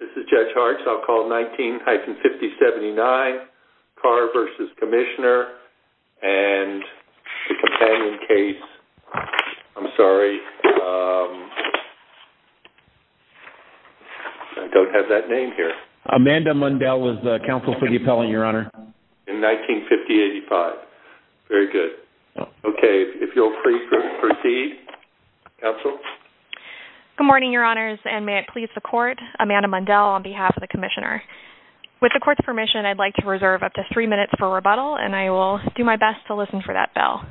This is Judge Hartz. I'll call 19-5079, Carr v. Commissioner, and the companion case, I'm sorry, I don't have that name here. Amanda Mundell with Counsel for the Appellant, Your Honor. In 1950-85. Very good. Okay, if you'll please proceed. Counsel? Good morning, Your Honors, and may it please the Court, Amanda Mundell on behalf of the Commissioner. With the Court's permission, I'd like to reserve up to three minutes for rebuttal, and I will do my best to listen for that bell.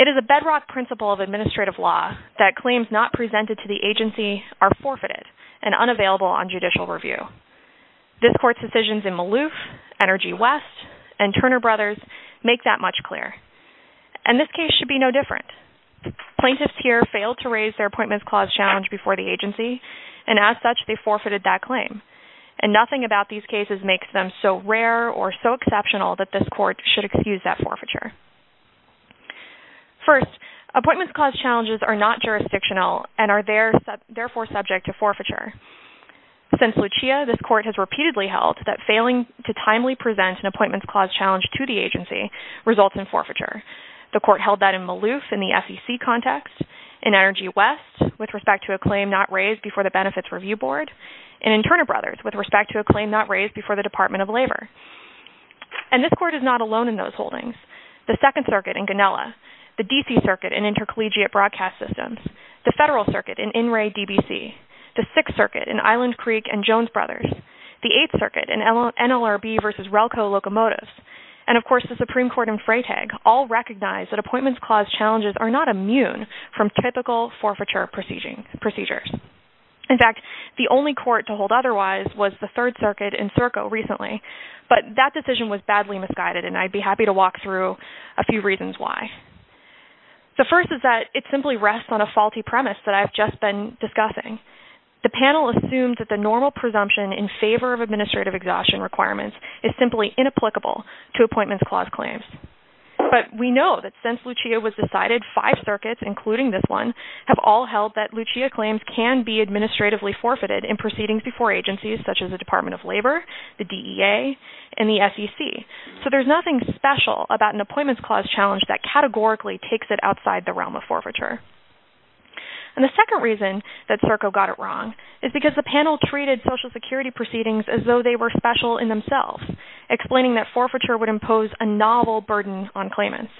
It is a bedrock principle of administrative law that claims not presented to the agency are forfeited and unavailable on judicial review. This Court's decisions in Maloof, Energy West, and Turner Brothers make that much clearer. And this case should be no different. Plaintiffs here failed to raise their Appointments Clause challenge before the agency, and as such, they forfeited that claim. And nothing about these cases makes them so rare or so exceptional that this Court should excuse that forfeiture. First, Appointments Clause challenges are not jurisdictional and are therefore subject to forfeiture. Since Lucia, this Court has repeatedly held that failing to timely present an Appointments Clause challenge to the agency results in forfeiture. The Court held that in Maloof in the FEC context, in Energy West with respect to a claim not raised before the Benefits Review Board, and in Turner Brothers with respect to a claim not raised before the Department of Labor. And this Court is not alone in those holdings. The Second Circuit in Ganella, the D.C. Circuit in Intercollegiate Broadcast Systems, the Federal Circuit in In Re, D.B.C., the Sixth Circuit in Island Creek and Jones Brothers, the Eighth Circuit in NLRB v. Relco Locomotives, and of course the Supreme Court in Freytag all recognize that Appointments Clause challenges are not immune from typical forfeiture procedures. In fact, the only Court to hold otherwise was the Third Circuit in Serco recently, but that decision was badly misguided and I'd be happy to walk through a few reasons why. The first is that it simply rests on a faulty premise that I've just been discussing. The panel assumed that the normal presumption in favor of administrative exhaustion requirements is simply inapplicable to Appointments Clause claims. But we know that since Lucia was decided, five circuits, including this one, have all held that Lucia claims can be administratively forfeited in proceedings before agencies such as the Department of Labor, the DEA, and the FEC. So there's nothing special about an Appointments Clause challenge that categorically takes it outside the realm of forfeiture. And the second reason that Serco got it wrong is because the panel treated Social Security proceedings as though they were special in themselves, explaining that forfeiture would impose a novel burden on claimants.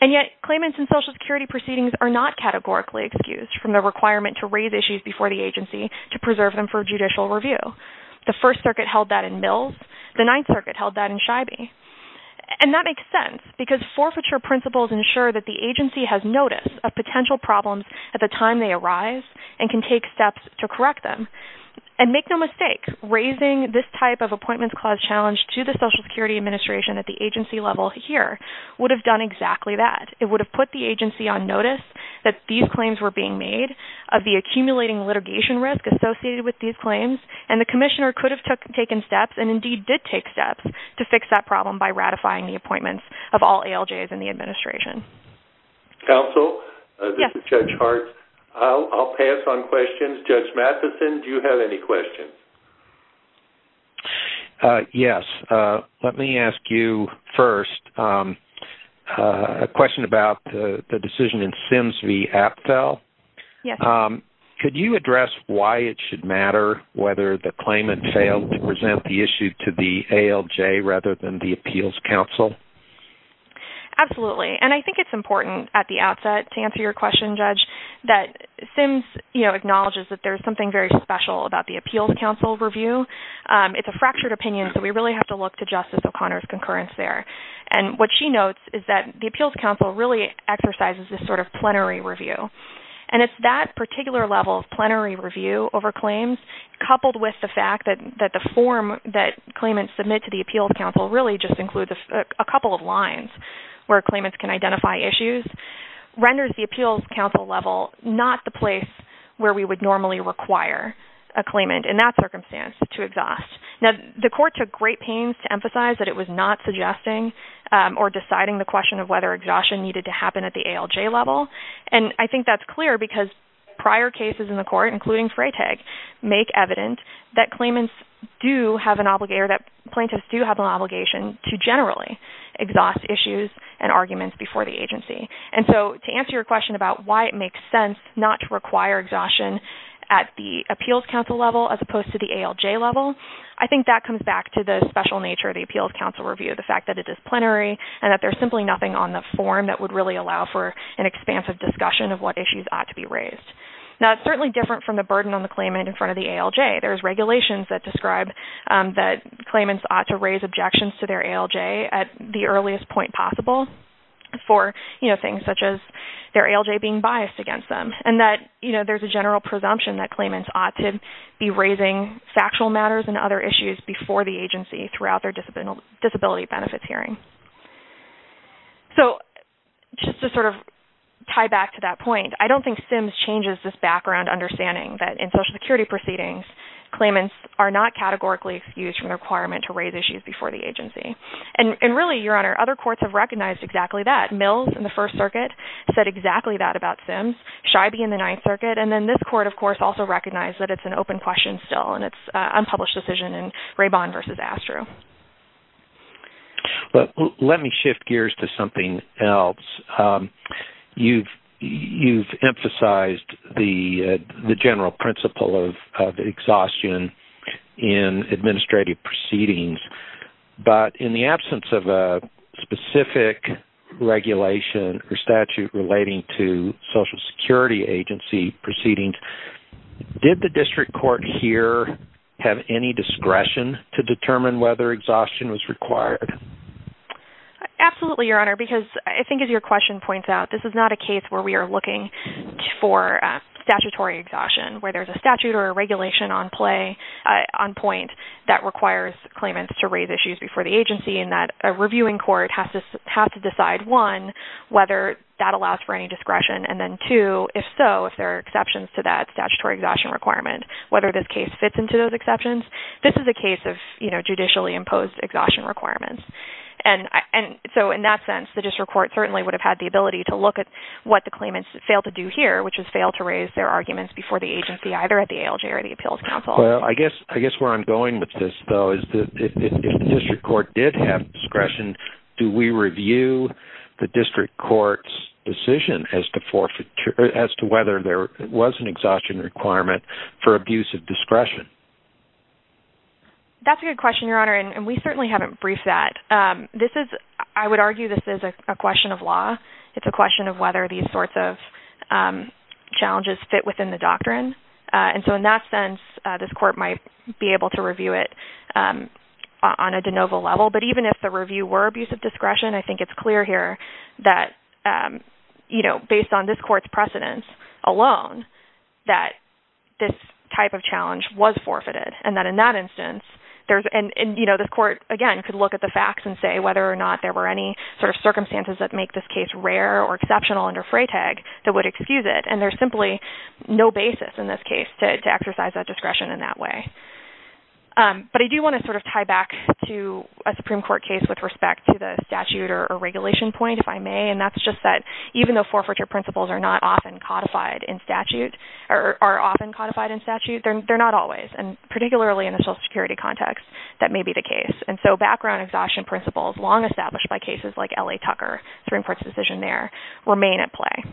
And yet, claimants in Social Security proceedings are not categorically excused from the requirement to raise issues before the agency to preserve them for judicial review. The First Circuit held that in Mills. The Ninth Circuit held that in Scheibe. And that makes sense because forfeiture principles ensure that the agency has notice of potential problems at the time they arise and can take steps to correct them. And make no mistake, raising this type of Appointments Clause challenge to the Social Security Administration at the agency level here would have done exactly that. It would have put the agency on notice that these claims were being made, of the accumulating litigation risk associated with these claims, and the commissioner could have taken steps, and indeed did take steps, to fix that problem by ratifying the appointments of all ALJs in the administration. Counsel? Yes. This is Judge Hartz. I'll pass on questions. Judge Matheson, do you have any questions? Yes. Let me ask you first a question about the decision in Sims v. Apfel. Yes. Could you address why it should matter whether the claimant failed to present the issue to the ALJ rather than the Appeals Council? Absolutely. And I think it's important at the outset to answer your question, Judge, that Sims, you know, acknowledges that there's something very special about the Appeals Council review. It's a fractured opinion, so we really have to look to Justice O'Connor's concurrence there. And what she notes is that the Appeals Council really exercises this sort of plenary review. And it's that particular level of plenary review over claims, coupled with the fact that the form that claimants submit to the Appeals Council really just includes a couple of lines where claimants can identify issues, renders the Appeals Council level not the place where we would normally require a claimant in that circumstance to exhaust. Now, the court took great pains to emphasize that it was not suggesting or deciding the question of whether exhaustion needed to happen at the ALJ level. And I think that's clear because prior cases in the court, including Freytag, make evident that claimants do have an obligation or that plaintiffs do have an obligation to generally exhaust issues and arguments before the agency. And so to answer your question about why it makes sense not to require exhaustion at the Appeals Council level as opposed to the ALJ level, I think that comes back to the special nature of the Appeals Council review, the fact that it is plenary and that there's simply nothing on the form that would really allow for an expansive discussion of what issues ought to be raised. Now, it's certainly different from the burden on the claimant in front of the ALJ. There's regulations that describe that claimants ought to raise objections to their ALJ at the earliest point possible for, you know, things such as their ALJ being biased against them. And that, you know, there's a general presumption that claimants ought to be raising factual matters and other issues before the agency throughout their disability benefits hearing. So just to sort of tie back to that point, I don't think SIMS changes this background understanding that in Social Security proceedings, claimants are not categorically excused from the requirement to raise issues before the agency. And really, Your Honor, other courts have recognized exactly that. Mills in the First Circuit said exactly that about SIMS. Scheibe in the Ninth Circuit and then this court, of course, also recognized that it's an open question still and it's an unpublished decision in Rabban versus Astro. Let me shift gears to something else. You've emphasized the general principle of exhaustion in administrative proceedings, but in the absence of a specific regulation or statute relating to Social Security agency proceedings, did the district court here have any discretion to determine whether exhaustion was required? Absolutely, Your Honor, because I think as your question points out, this is not a case where we are looking for statutory exhaustion, where there's a statute or a regulation on point that requires claimants to raise issues before the agency and that a reviewing court has to decide, one, whether that allows for any discretion, and then two, if so, if there are exceptions to that statutory exhaustion requirement, whether this case fits into those exceptions. This is a case of, you know, judicially imposed exhaustion requirements. And so in that sense, the district court certainly would have had the ability to look at what the claimants failed to do here, which is fail to raise their arguments before the agency, either at the ALJ or the Appeals Council. Well, I guess where I'm going with this, though, is if the district court did have discretion, do we review the district court's decision as to whether there was an exhaustion requirement for abuse of discretion? That's a good question, Your Honor, and we certainly haven't briefed that. It's a question of whether these sorts of challenges fit within the doctrine. And so in that sense, this court might be able to review it on a de novo level. But even if the review were abuse of discretion, I think it's clear here that, you know, based on this court's precedence alone, that this type of challenge was forfeited, and that in that instance there's – and, you know, this court, again, could look at the facts and say whether or not there were any sort of circumstances that make this case rare or exceptional under Freytag that would excuse it. And there's simply no basis in this case to exercise that discretion in that way. But I do want to sort of tie back to a Supreme Court case with respect to the statute or regulation point, if I may, and that's just that even though forfeiture principles are not often codified in statute – or are often codified in statute, they're not always. And particularly in a Social Security context, that may be the case. And so background exhaustion principles, long established by cases like L.A. Tucker, Supreme Court's decision there, remain at play.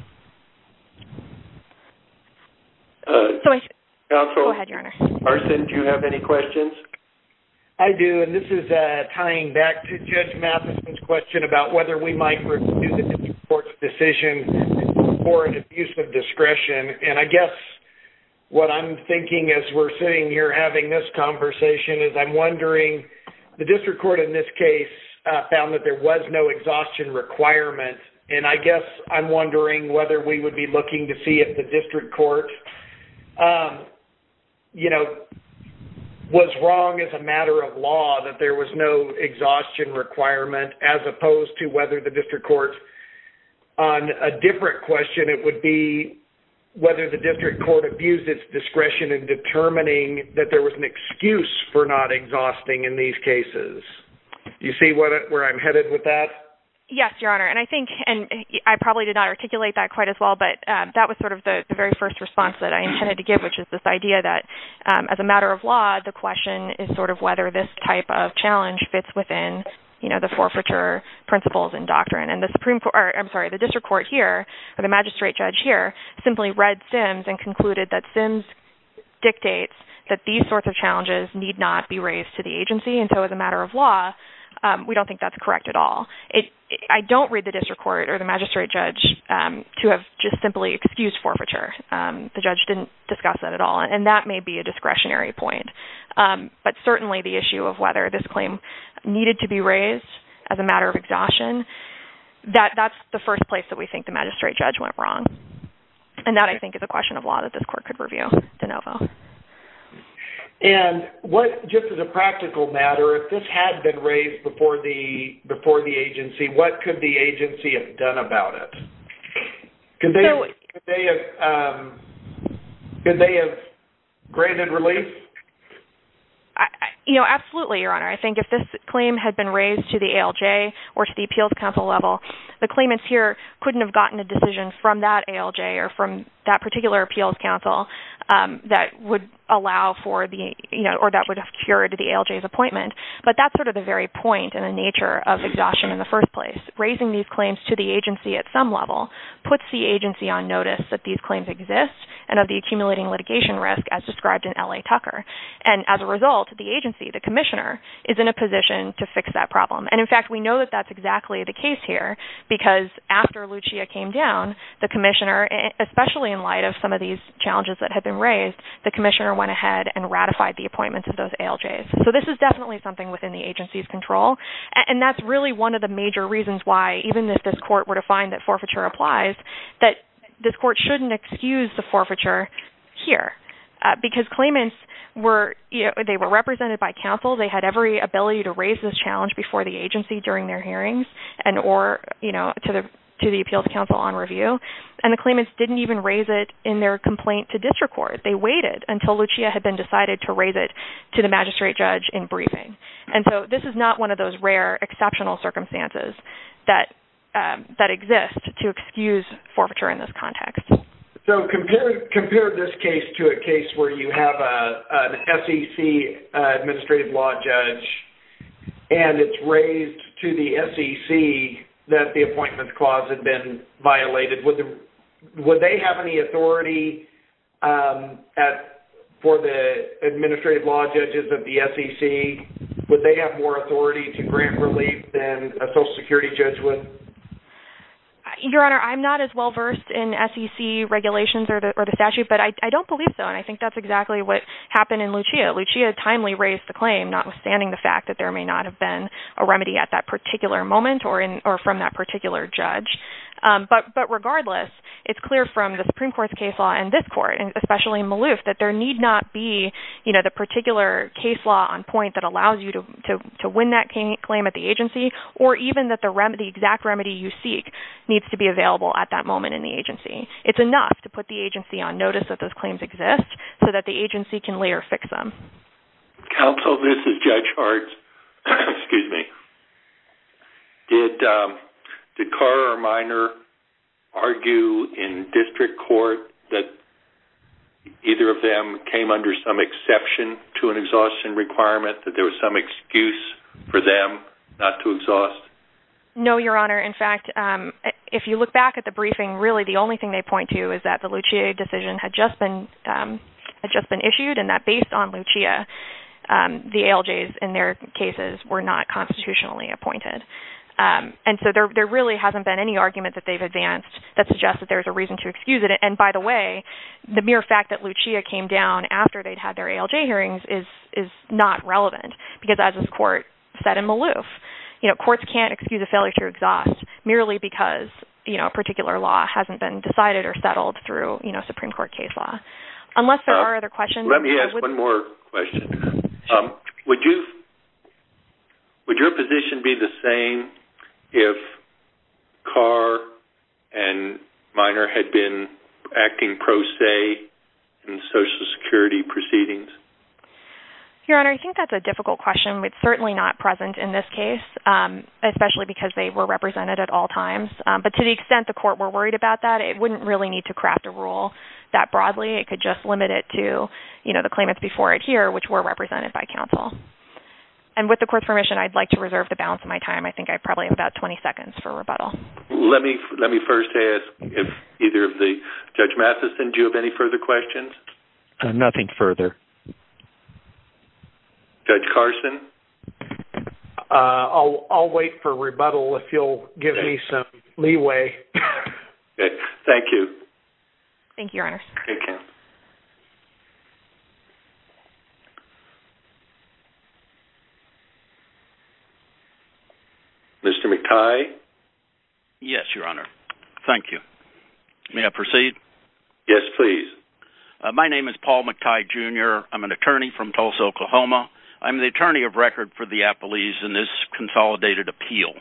Go ahead, Your Honor. Carson, do you have any questions? I do, and this is tying back to Judge Mathison's question about whether we might review the Supreme Court's decision for an abuse of discretion. And I guess what I'm thinking as we're sitting here having this conversation is I'm wondering, the district court in this case found that there was no exhaustion requirement. And I guess I'm wondering whether we would be looking to see if the district court, you know, was wrong as a matter of law that there was no exhaustion requirement, as opposed to whether the district court – on a different question, it would be whether the district court abused its discretion in determining that there was an excuse for not exhausting. Do you see where I'm headed with that? Yes, Your Honor, and I probably did not articulate that quite as well, but that was sort of the very first response that I intended to give, which is this idea that as a matter of law, the question is sort of whether this type of challenge fits within, you know, the forfeiture principles and doctrine. And the district court here, or the magistrate judge here, simply read Sims and concluded that Sims dictates that these sorts of challenges need not be raised to the agency, and so as a matter of law, we don't think that's correct at all. I don't read the district court or the magistrate judge to have just simply excused forfeiture. The judge didn't discuss that at all, and that may be a discretionary point. But certainly the issue of whether this claim needed to be raised as a matter of exhaustion, that's the first place that we think the magistrate judge went wrong. And that, I think, is a question of law that this court could review de novo. And what, just as a practical matter, if this had been raised before the agency, what could the agency have done about it? Could they have granted release? You know, absolutely, Your Honor. I think if this claim had been raised to the ALJ or to the Appeals Council level, the claimants here couldn't have gotten a decision from that ALJ or from that particular Appeals Council that would allow for the, you know, or that would have cured the ALJ's appointment. But that's sort of the very point and the nature of exhaustion in the first place. Raising these claims to the agency at some level puts the agency on notice that these claims exist and of the accumulating litigation risk as described in L.A. Tucker. And as a result, the agency, the commissioner, is in a position to fix that problem. And, in fact, we know that that's exactly the case here because after Lucia came down, the commissioner, especially in light of some of these challenges that had been raised, the commissioner went ahead and ratified the appointments of those ALJs. So this is definitely something within the agency's control. And that's really one of the major reasons why, even if this court were to find that forfeiture applies, that this court shouldn't excuse the forfeiture here because claimants were, you know, to the agency during their hearings and or, you know, to the appeals council on review. And the claimants didn't even raise it in their complaint to district court. They waited until Lucia had been decided to raise it to the magistrate judge in briefing. And so this is not one of those rare exceptional circumstances that exist to excuse forfeiture in this context. So compare this case to a case where you have an SEC administrative law judge and it's raised to the SEC that the appointments clause had been violated. Would they have any authority for the administrative law judges of the SEC? Would they have more authority to grant relief than a Social Security judge would? Your Honor, I'm not as well versed in SEC regulations or the statute, but I don't believe so. And I think that's exactly what happened in Lucia. Lucia timely raised the claim, notwithstanding the fact that there may not have been a remedy at that particular moment or from that particular judge. But regardless, it's clear from the Supreme Court's case law and this court, and especially Malouf, that there need not be, you know, the particular case law on point that allows you to win that claim at the agency or even that the exact remedy you seek needs to be available at that moment in the agency. It's enough to put the agency on notice that those claims exist so that the agency can later fix them. Counsel, this is Judge Hart. Excuse me. Did Cora or Minor argue in district court that either of them came under some exception to an exhaustion requirement, that there was some excuse for them not to exhaust? No, Your Honor. In fact, if you look back at the briefing, really the only thing they point to is that the Lucia decision had just been issued and that based on Lucia, the ALJs in their cases were not constitutionally appointed. And so there really hasn't been any argument that they've advanced that suggests that there's a reason to excuse it. And by the way, the mere fact that Lucia came down after they'd had their ALJ hearings is not relevant because as this court said in Malouf, you know, you can't excuse a failure to exhaust merely because, you know, a particular law hasn't been decided or settled through, you know, Supreme Court case law. Unless there are other questions. Let me ask one more question. Would your position be the same if Cora and Minor had been acting pro se in Social Security proceedings? Your Honor, I think that's a difficult question. It's certainly not present in this case, especially because they were represented at all times. But to the extent the court were worried about that, it wouldn't really need to craft a rule that broadly. It could just limit it to, you know, the claimants before it here, which were represented by counsel. And with the court's permission, I'd like to reserve the balance of my time. I think I probably have about 20 seconds for rebuttal. Let me first ask if either of the – Judge Mathison, do you have any further questions? Nothing further. Judge Carson? I'll wait for rebuttal if you'll give me some leeway. Okay. Thank you. Thank you, Your Honor. Thank you. Mr. McTighe? Yes, Your Honor. Thank you. May I proceed? Yes, please. My name is Paul McTighe, Jr. I'm an attorney from Tulsa, Oklahoma. I'm the attorney of record for the Appellees in this Consolidated Appeal.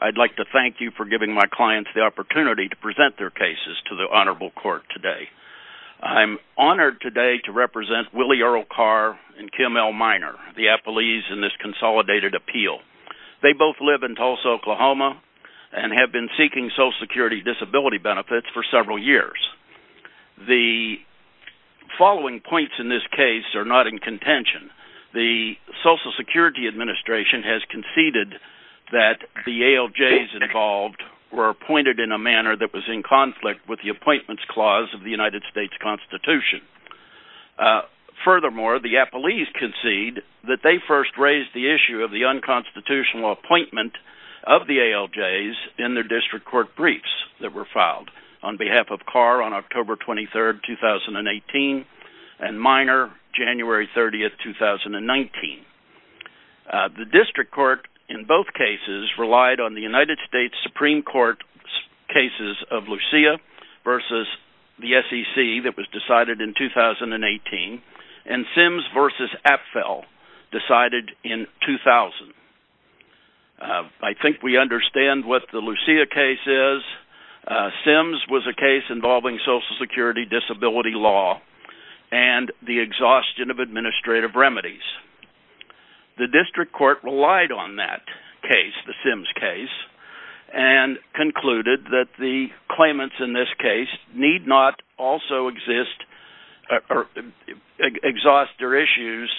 I'd like to thank you for giving my clients the opportunity to present their cases to the Honorable Court today. I'm honored today to represent Willie Earl Carr and Kim L. Minor, the Appellees in this Consolidated Appeal. They both live in Tulsa, Oklahoma and have been seeking Social Security disability benefits for several years. The following points in this case are not in contention. The Social Security Administration has conceded that the ALJs involved were appointed in a manner that was in conflict with the Appointments Clause of the United States Constitution. Furthermore, the Appellees concede that they first raised the issue of the unconstitutional appointment of the ALJs in their district court briefs that were filed on behalf of Carr on October 23, 2018, and Minor January 30, 2019. The district court in both cases relied on the United States Supreme Court cases of Lucia v. the SEC that was decided in 2018 and Sims v. Appell decided in 2000. I think we understand what the Lucia case is. Sims was a case involving Social Security disability law and the exhaustion of administrative remedies. The district court relied on that case, the Sims case, and concluded that the claimants in this case need not also exhaust their issues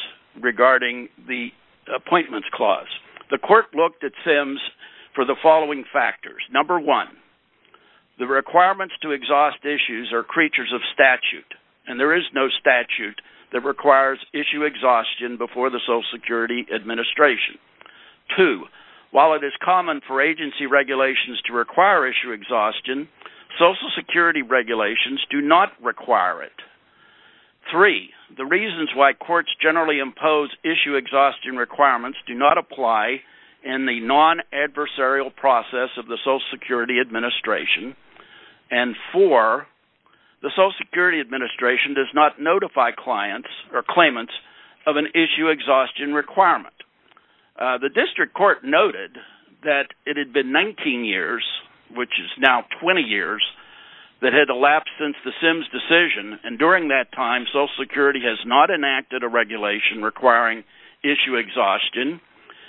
regarding the Appointments Clause. The court looked at Sims for the following factors. Number one, the requirements to exhaust issues are creatures of statute and there is no statute that requires issue exhaustion before the Social Security Administration. Two, while it is common for agency regulations to require issue exhaustion, Social Security regulations do not require it. Three, the reasons why courts generally impose issue exhaustion requirements do not apply in the non-adversarial process of the Social Security Administration. Four, the Social Security Administration does not notify claimants of an issue exhaustion requirement. The district court noted that it had been 19 years, which is now 20 years, that had elapsed since the Sims decision and during that time Social Security has not enacted a regulation requiring issue exhaustion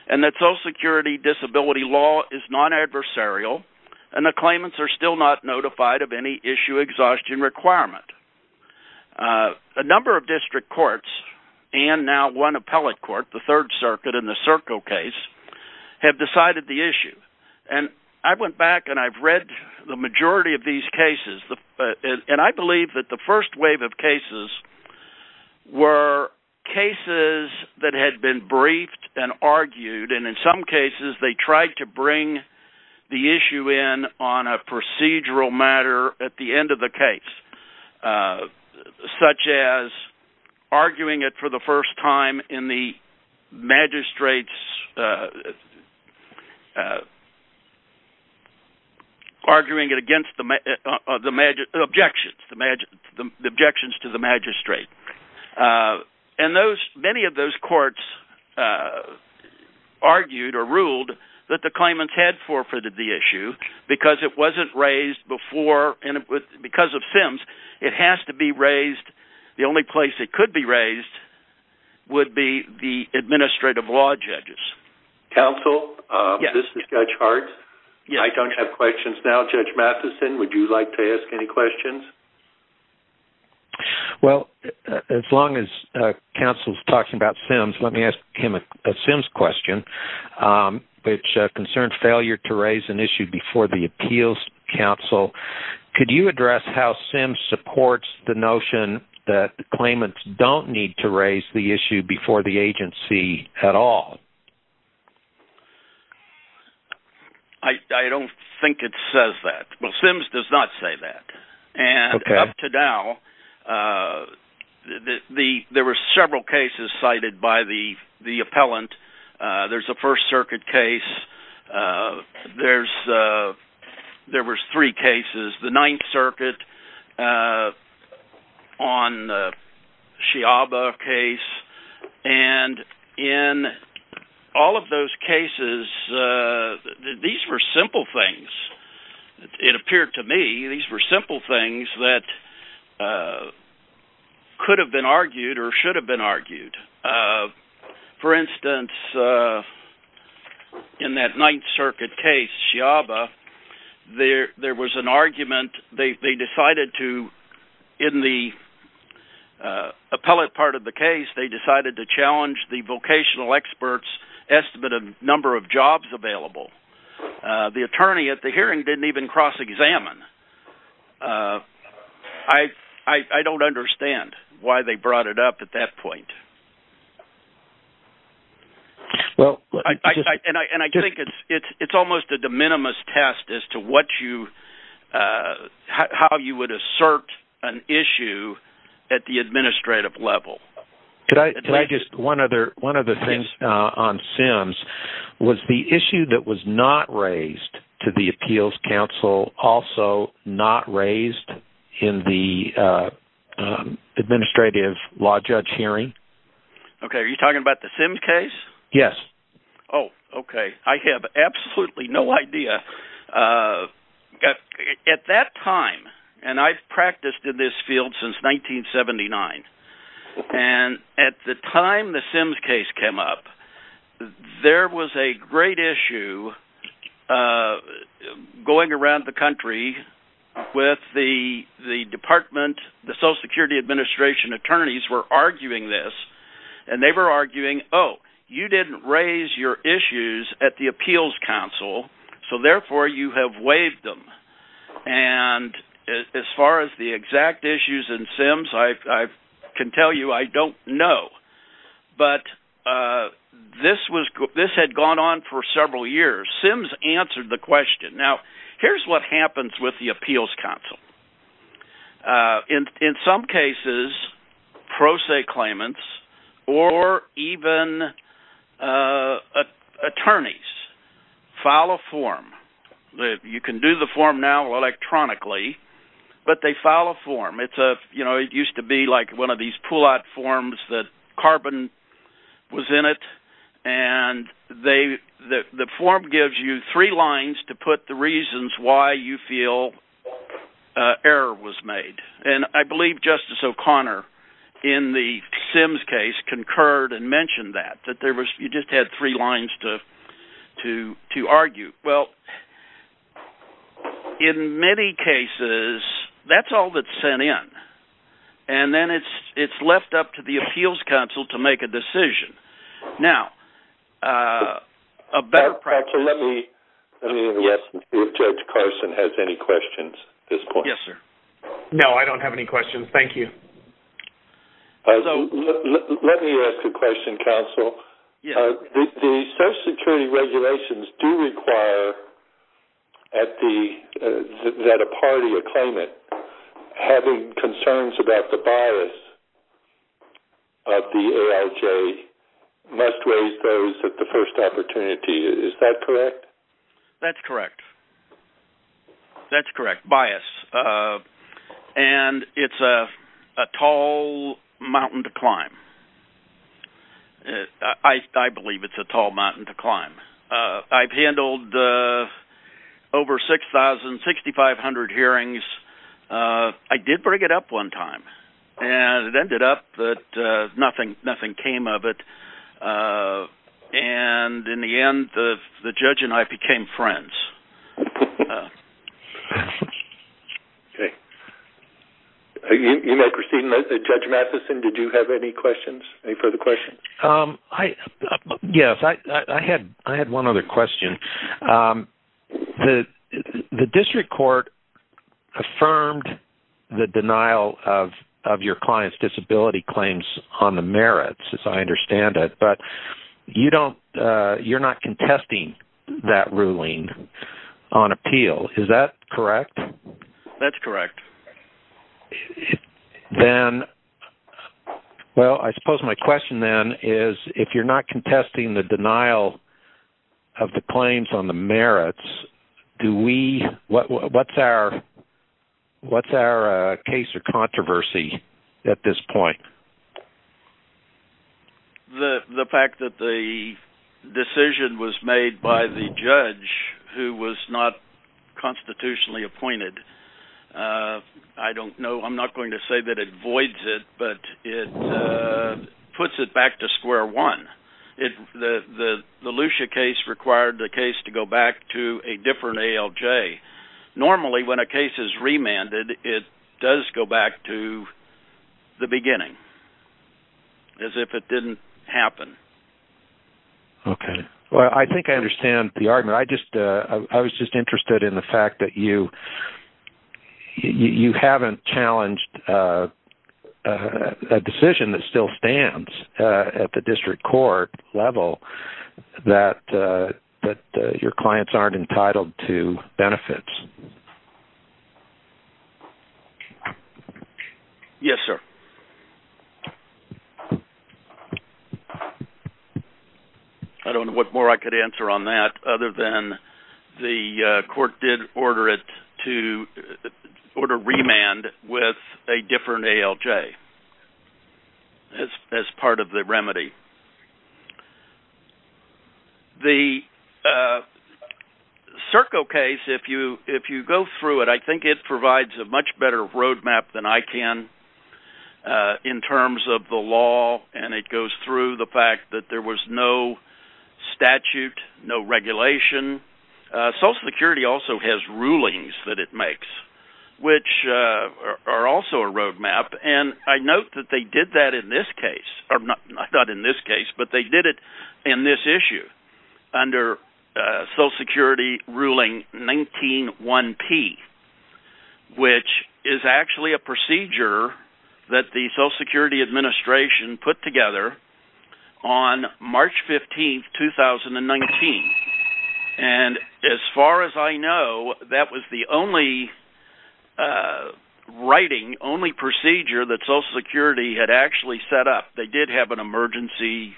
and that Social Security disability law is non-adversarial and the claimants are still not notified of any issue exhaustion requirement. A number of district courts and now one appellate court, the Third Circuit in the Serco case, have decided the issue. And I went back and I've read the majority of these cases and I believe that the first wave of cases were cases that had been briefed and argued and in some cases they tried to bring the issue in on a procedural matter at the end of the case, such as arguing it for the first time in the magistrate's, arguing it against the objection to the magistrate. And those, many of those courts argued or ruled that the claimants had forfeited the issue because it wasn't raised before, because of Sims, it has to be raised, the only place it could be raised would be the administrative law judges. Counsel, this is Judge Hart. I don't have questions now. Judge Matheson, would you like to ask any questions? Well, as long as counsel is talking about Sims, let me ask him a Sims question, which concerns failure to raise an issue before the appeals counsel. Could you address how Sims supports the notion that the claimants don't need to raise the issue before the agency at all? I don't think it says that. Well, Sims does not say that. And up to now, there were several cases cited by the appellant. There's a First Circuit case. There was three cases, the Ninth Circuit on the Sciabba case. And in all of those cases, these were simple things. It appeared to me these were simple things that could have been argued or should have been argued. For instance, in that Ninth Circuit case, Sciabba, there was an argument. They decided to, in the appellate part of the case, they decided to challenge the vocational expert's estimate of number of jobs available. The attorney at the hearing didn't even cross-examine. I don't understand why they brought it up at that point. And I think it's almost a de minimis test as to how you would assert an issue at the administrative level. One of the things on Sims was the issue that was not raised to the appeals council also not raised in the administrative law judge hearing. Okay, are you talking about the Sims case? Yes. Oh, okay. I have absolutely no idea. At that time, and I've practiced in this field since 1979, and at the time the Sims case came up, there was a great issue going around the country with the department. And the Social Security Administration attorneys were arguing this. And they were arguing, oh, you didn't raise your issues at the appeals council, so therefore you have waived them. And as far as the exact issues in Sims, I can tell you I don't know. But this had gone on for several years. Sims answered the question. Now, here's what happens with the appeals council. In some cases, pro se claimants or even attorneys file a form. You can do the form now electronically, but they file a form. It used to be like one of these pull-out forms that carbon was in it. And the form gives you three lines to put the reasons why you feel error was made. And I believe Justice O'Connor in the Sims case concurred and mentioned that, that you just had three lines to argue. Well, in many cases, that's all that's sent in. And then it's left up to the appeals council to make a decision. Now, a better practice... Let me ask if Judge Carson has any questions at this point. Yes, sir. No, I don't have any questions. Thank you. Let me ask a question, counsel. The Social Security regulations do require that a party, a claimant, having concerns about the bias of the AIJ must raise those at the first opportunity. Is that correct? That's correct. That's correct, bias. And it's a tall mountain to climb. I believe it's a tall mountain to climb. I've handled over 6,000, 6,500 hearings. I did bring it up one time, and it ended up that nothing came of it. And in the end, the judge and I became friends. Okay. You may proceed, Judge Matheson. Did you have any questions, any further questions? Yes. I had one other question. The district court affirmed the denial of your client's disability claims on the merits, as I understand it. But you're not contesting that ruling on appeal. Is that correct? That's correct. Well, I suppose my question then is, if you're not contesting the denial of the claims on the merits, what's our case or controversy at this point? The fact that the decision was made by the judge who was not constitutionally appointed, I don't know. I'm not going to say that it voids it, but it puts it back to square one. The Lucia case required the case to go back to a different ALJ. Normally, when a case is remanded, it does go back to the beginning, as if it didn't happen. Okay. Well, I think I understand the argument. I was just interested in the fact that you haven't challenged a decision that still stands at the district court level that your clients aren't entitled to benefits. Yes, sir. I don't know what more I could answer on that, other than the court did order it to order remand with a different ALJ as part of the remedy. The Serco case, if you go through it, I think it provides a much better roadmap than I can in terms of the law, and it goes through the fact that there was no statute, no regulation. Social Security also has rulings that it makes, which are also a roadmap. I note that they did that in this case, or not in this case, but they did it in this issue under Social Security Ruling 19-1-P, which is actually a procedure that the Social Security Administration put together on March 15, 2019. As far as I know, that was the only writing, only procedure that Social Security had actually set up. They did have an emergency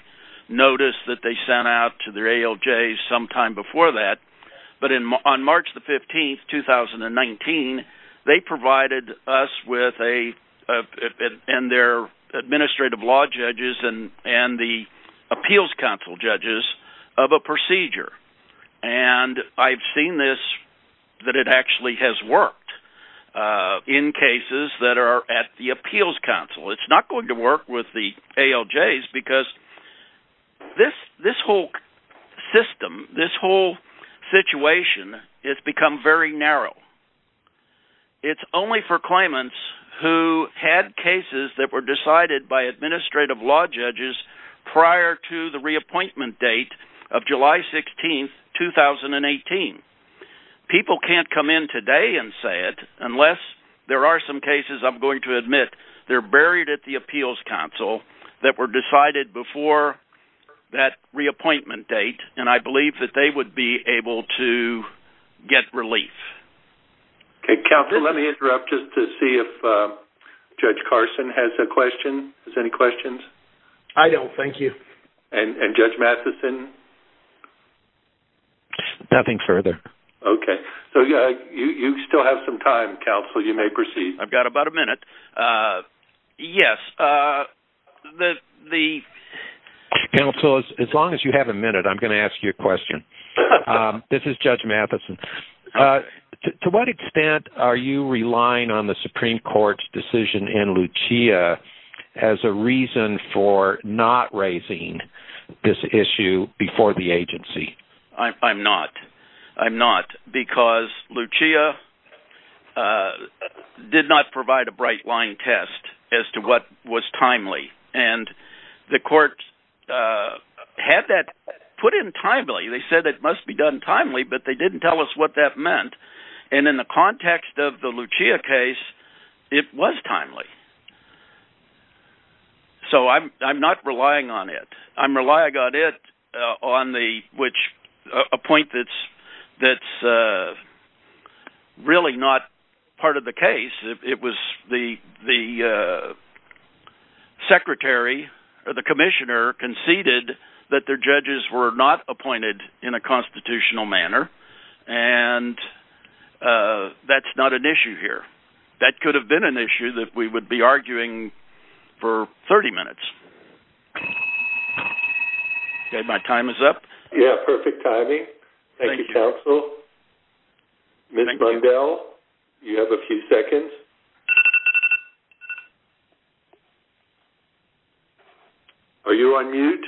notice that they sent out to their ALJs sometime before that. But on March 15, 2019, they provided us and their administrative law judges and the appeals council judges with a procedure. And I've seen this, that it actually has worked in cases that are at the appeals council. It's not going to work with the ALJs because this whole system, this whole situation has become very narrow. It's only for claimants who had cases that were decided by administrative law judges prior to the reappointment date of July 16, 2018. People can't come in today and say it unless there are some cases, I'm going to admit, they're buried at the appeals council, that were decided before that reappointment date, and I believe that they would be able to get relief. Okay, counsel, let me interrupt just to see if Judge Carson has a question. Does he have any questions? I don't, thank you. And Judge Matheson? Nothing further. Okay, so you still have some time, counsel, you may proceed. I've got about a minute. Yes, the... Counsel, as long as you have a minute, I'm going to ask you a question. This is Judge Matheson. To what extent are you relying on the Supreme Court's decision in Lucia as a reason for not raising this issue before the agency? I'm not. I'm not, because Lucia did not provide a bright-line test as to what was timely, and the court had that put in timely. They said it must be done timely, but they didn't tell us what that meant, and in the context of the Lucia case, it was timely. So I'm not relying on it. I'm relying on it on the, which, a point that's really not part of the case. It was the secretary or the commissioner conceded that their judges were not appointed in a constitutional manner, and that's not an issue here. That could have been an issue that we would be arguing for 30 minutes. Okay, my time is up. Yeah, perfect timing. Thank you, counsel. Ms. Bundell, you have a few seconds. Are you on mute?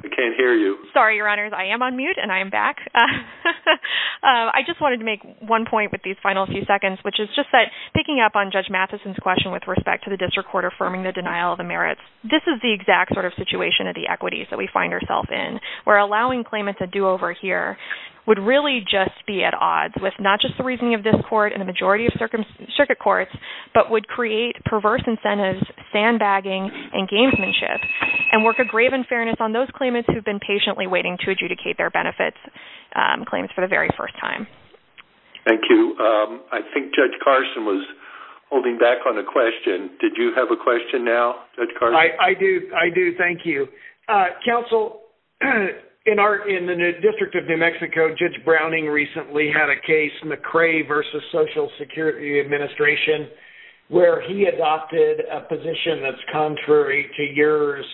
I can't hear you. Sorry, Your Honors. I am on mute, and I am back. I just wanted to make one point with these final few seconds, which is just that, picking up on Judge Matheson's question with respect to the district court affirming the denial of the merits, this is the exact sort of situation of the equities that we find ourselves in, where allowing claimants a do-over here would really just be at odds with not just the reasoning of this court and the majority of circuit courts, but would create perverse incentives, sandbagging, and gamesmanship, and work a grave unfairness on those claimants who have been patiently waiting to adjudicate their benefits. Claims for the very first time. Thank you. I think Judge Carson was holding back on a question. Did you have a question now, Judge Carson? I do. I do. Thank you. Counsel, in the District of New Mexico, Judge Browning recently had a case, McCray v. Social Security Administration, where he adopted a position that's contrary to yours.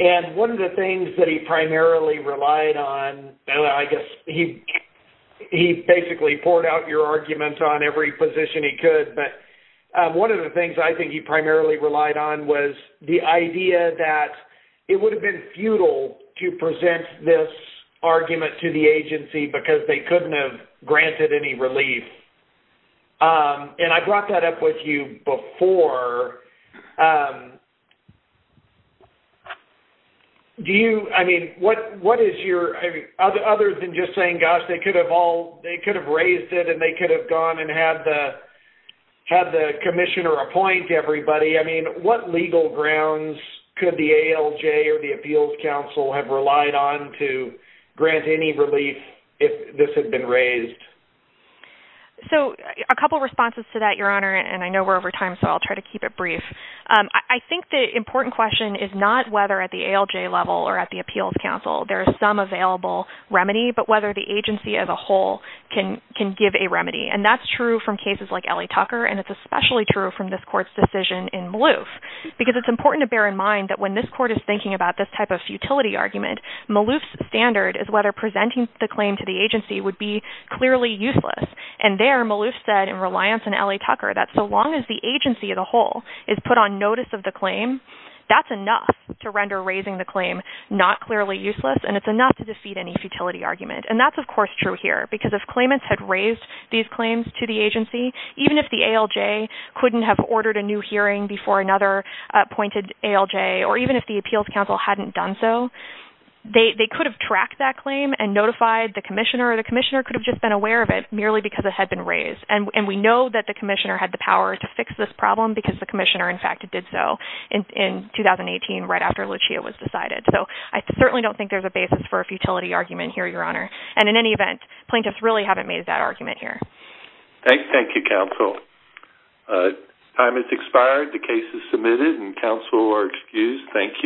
One of the things that he primarily relied on, I guess he basically poured out your arguments on every position he could, but one of the things I think he primarily relied on was the idea that it would have been futile to present this argument to the agency because they couldn't have granted any relief. And I brought that up with you before. Do you, I mean, what is your, other than just saying, gosh, they could have raised it and they could have gone and had the commissioner appoint everybody, I mean, what legal grounds could the ALJ or the Appeals Council have relied on to grant any relief if this had been raised? So a couple of responses to that, Your Honor, and I know we're over time, so I'll try to keep it brief. I think the important question is not whether at the ALJ level or at the Appeals Council there is some available remedy, but whether the agency as a whole can give a remedy. And that's true from cases like Ellie Tucker, and it's especially true from this court's decision in Maloof, because it's important to bear in mind that when this court is thinking about this type of futility argument, Maloof's standard is whether presenting the claim to the agency would be clearly useless. And there Maloof said in Reliance and Ellie Tucker that so long as the agency as a whole is put on notice of the claim, that's enough to render raising the claim not clearly useless, and it's enough to defeat any futility argument. And that's, of course, true here, because if claimants had raised these claims to the agency, even if the ALJ couldn't have ordered a new hearing before another appointed ALJ, or even if the Appeals Council hadn't done so, they could have tracked that claim and notified the commissioner, or the commissioner could have just been aware of it merely because it had been raised. And we know that the commissioner had the power to fix this problem because the commissioner, in fact, did so in 2018 right after Lucia was decided. So I certainly don't think there's a basis for a futility argument here, Your Honor. And in any event, plaintiffs really haven't made that argument here. Thank you, counsel. Time has expired. The case is submitted, and counsel are excused. Thank you.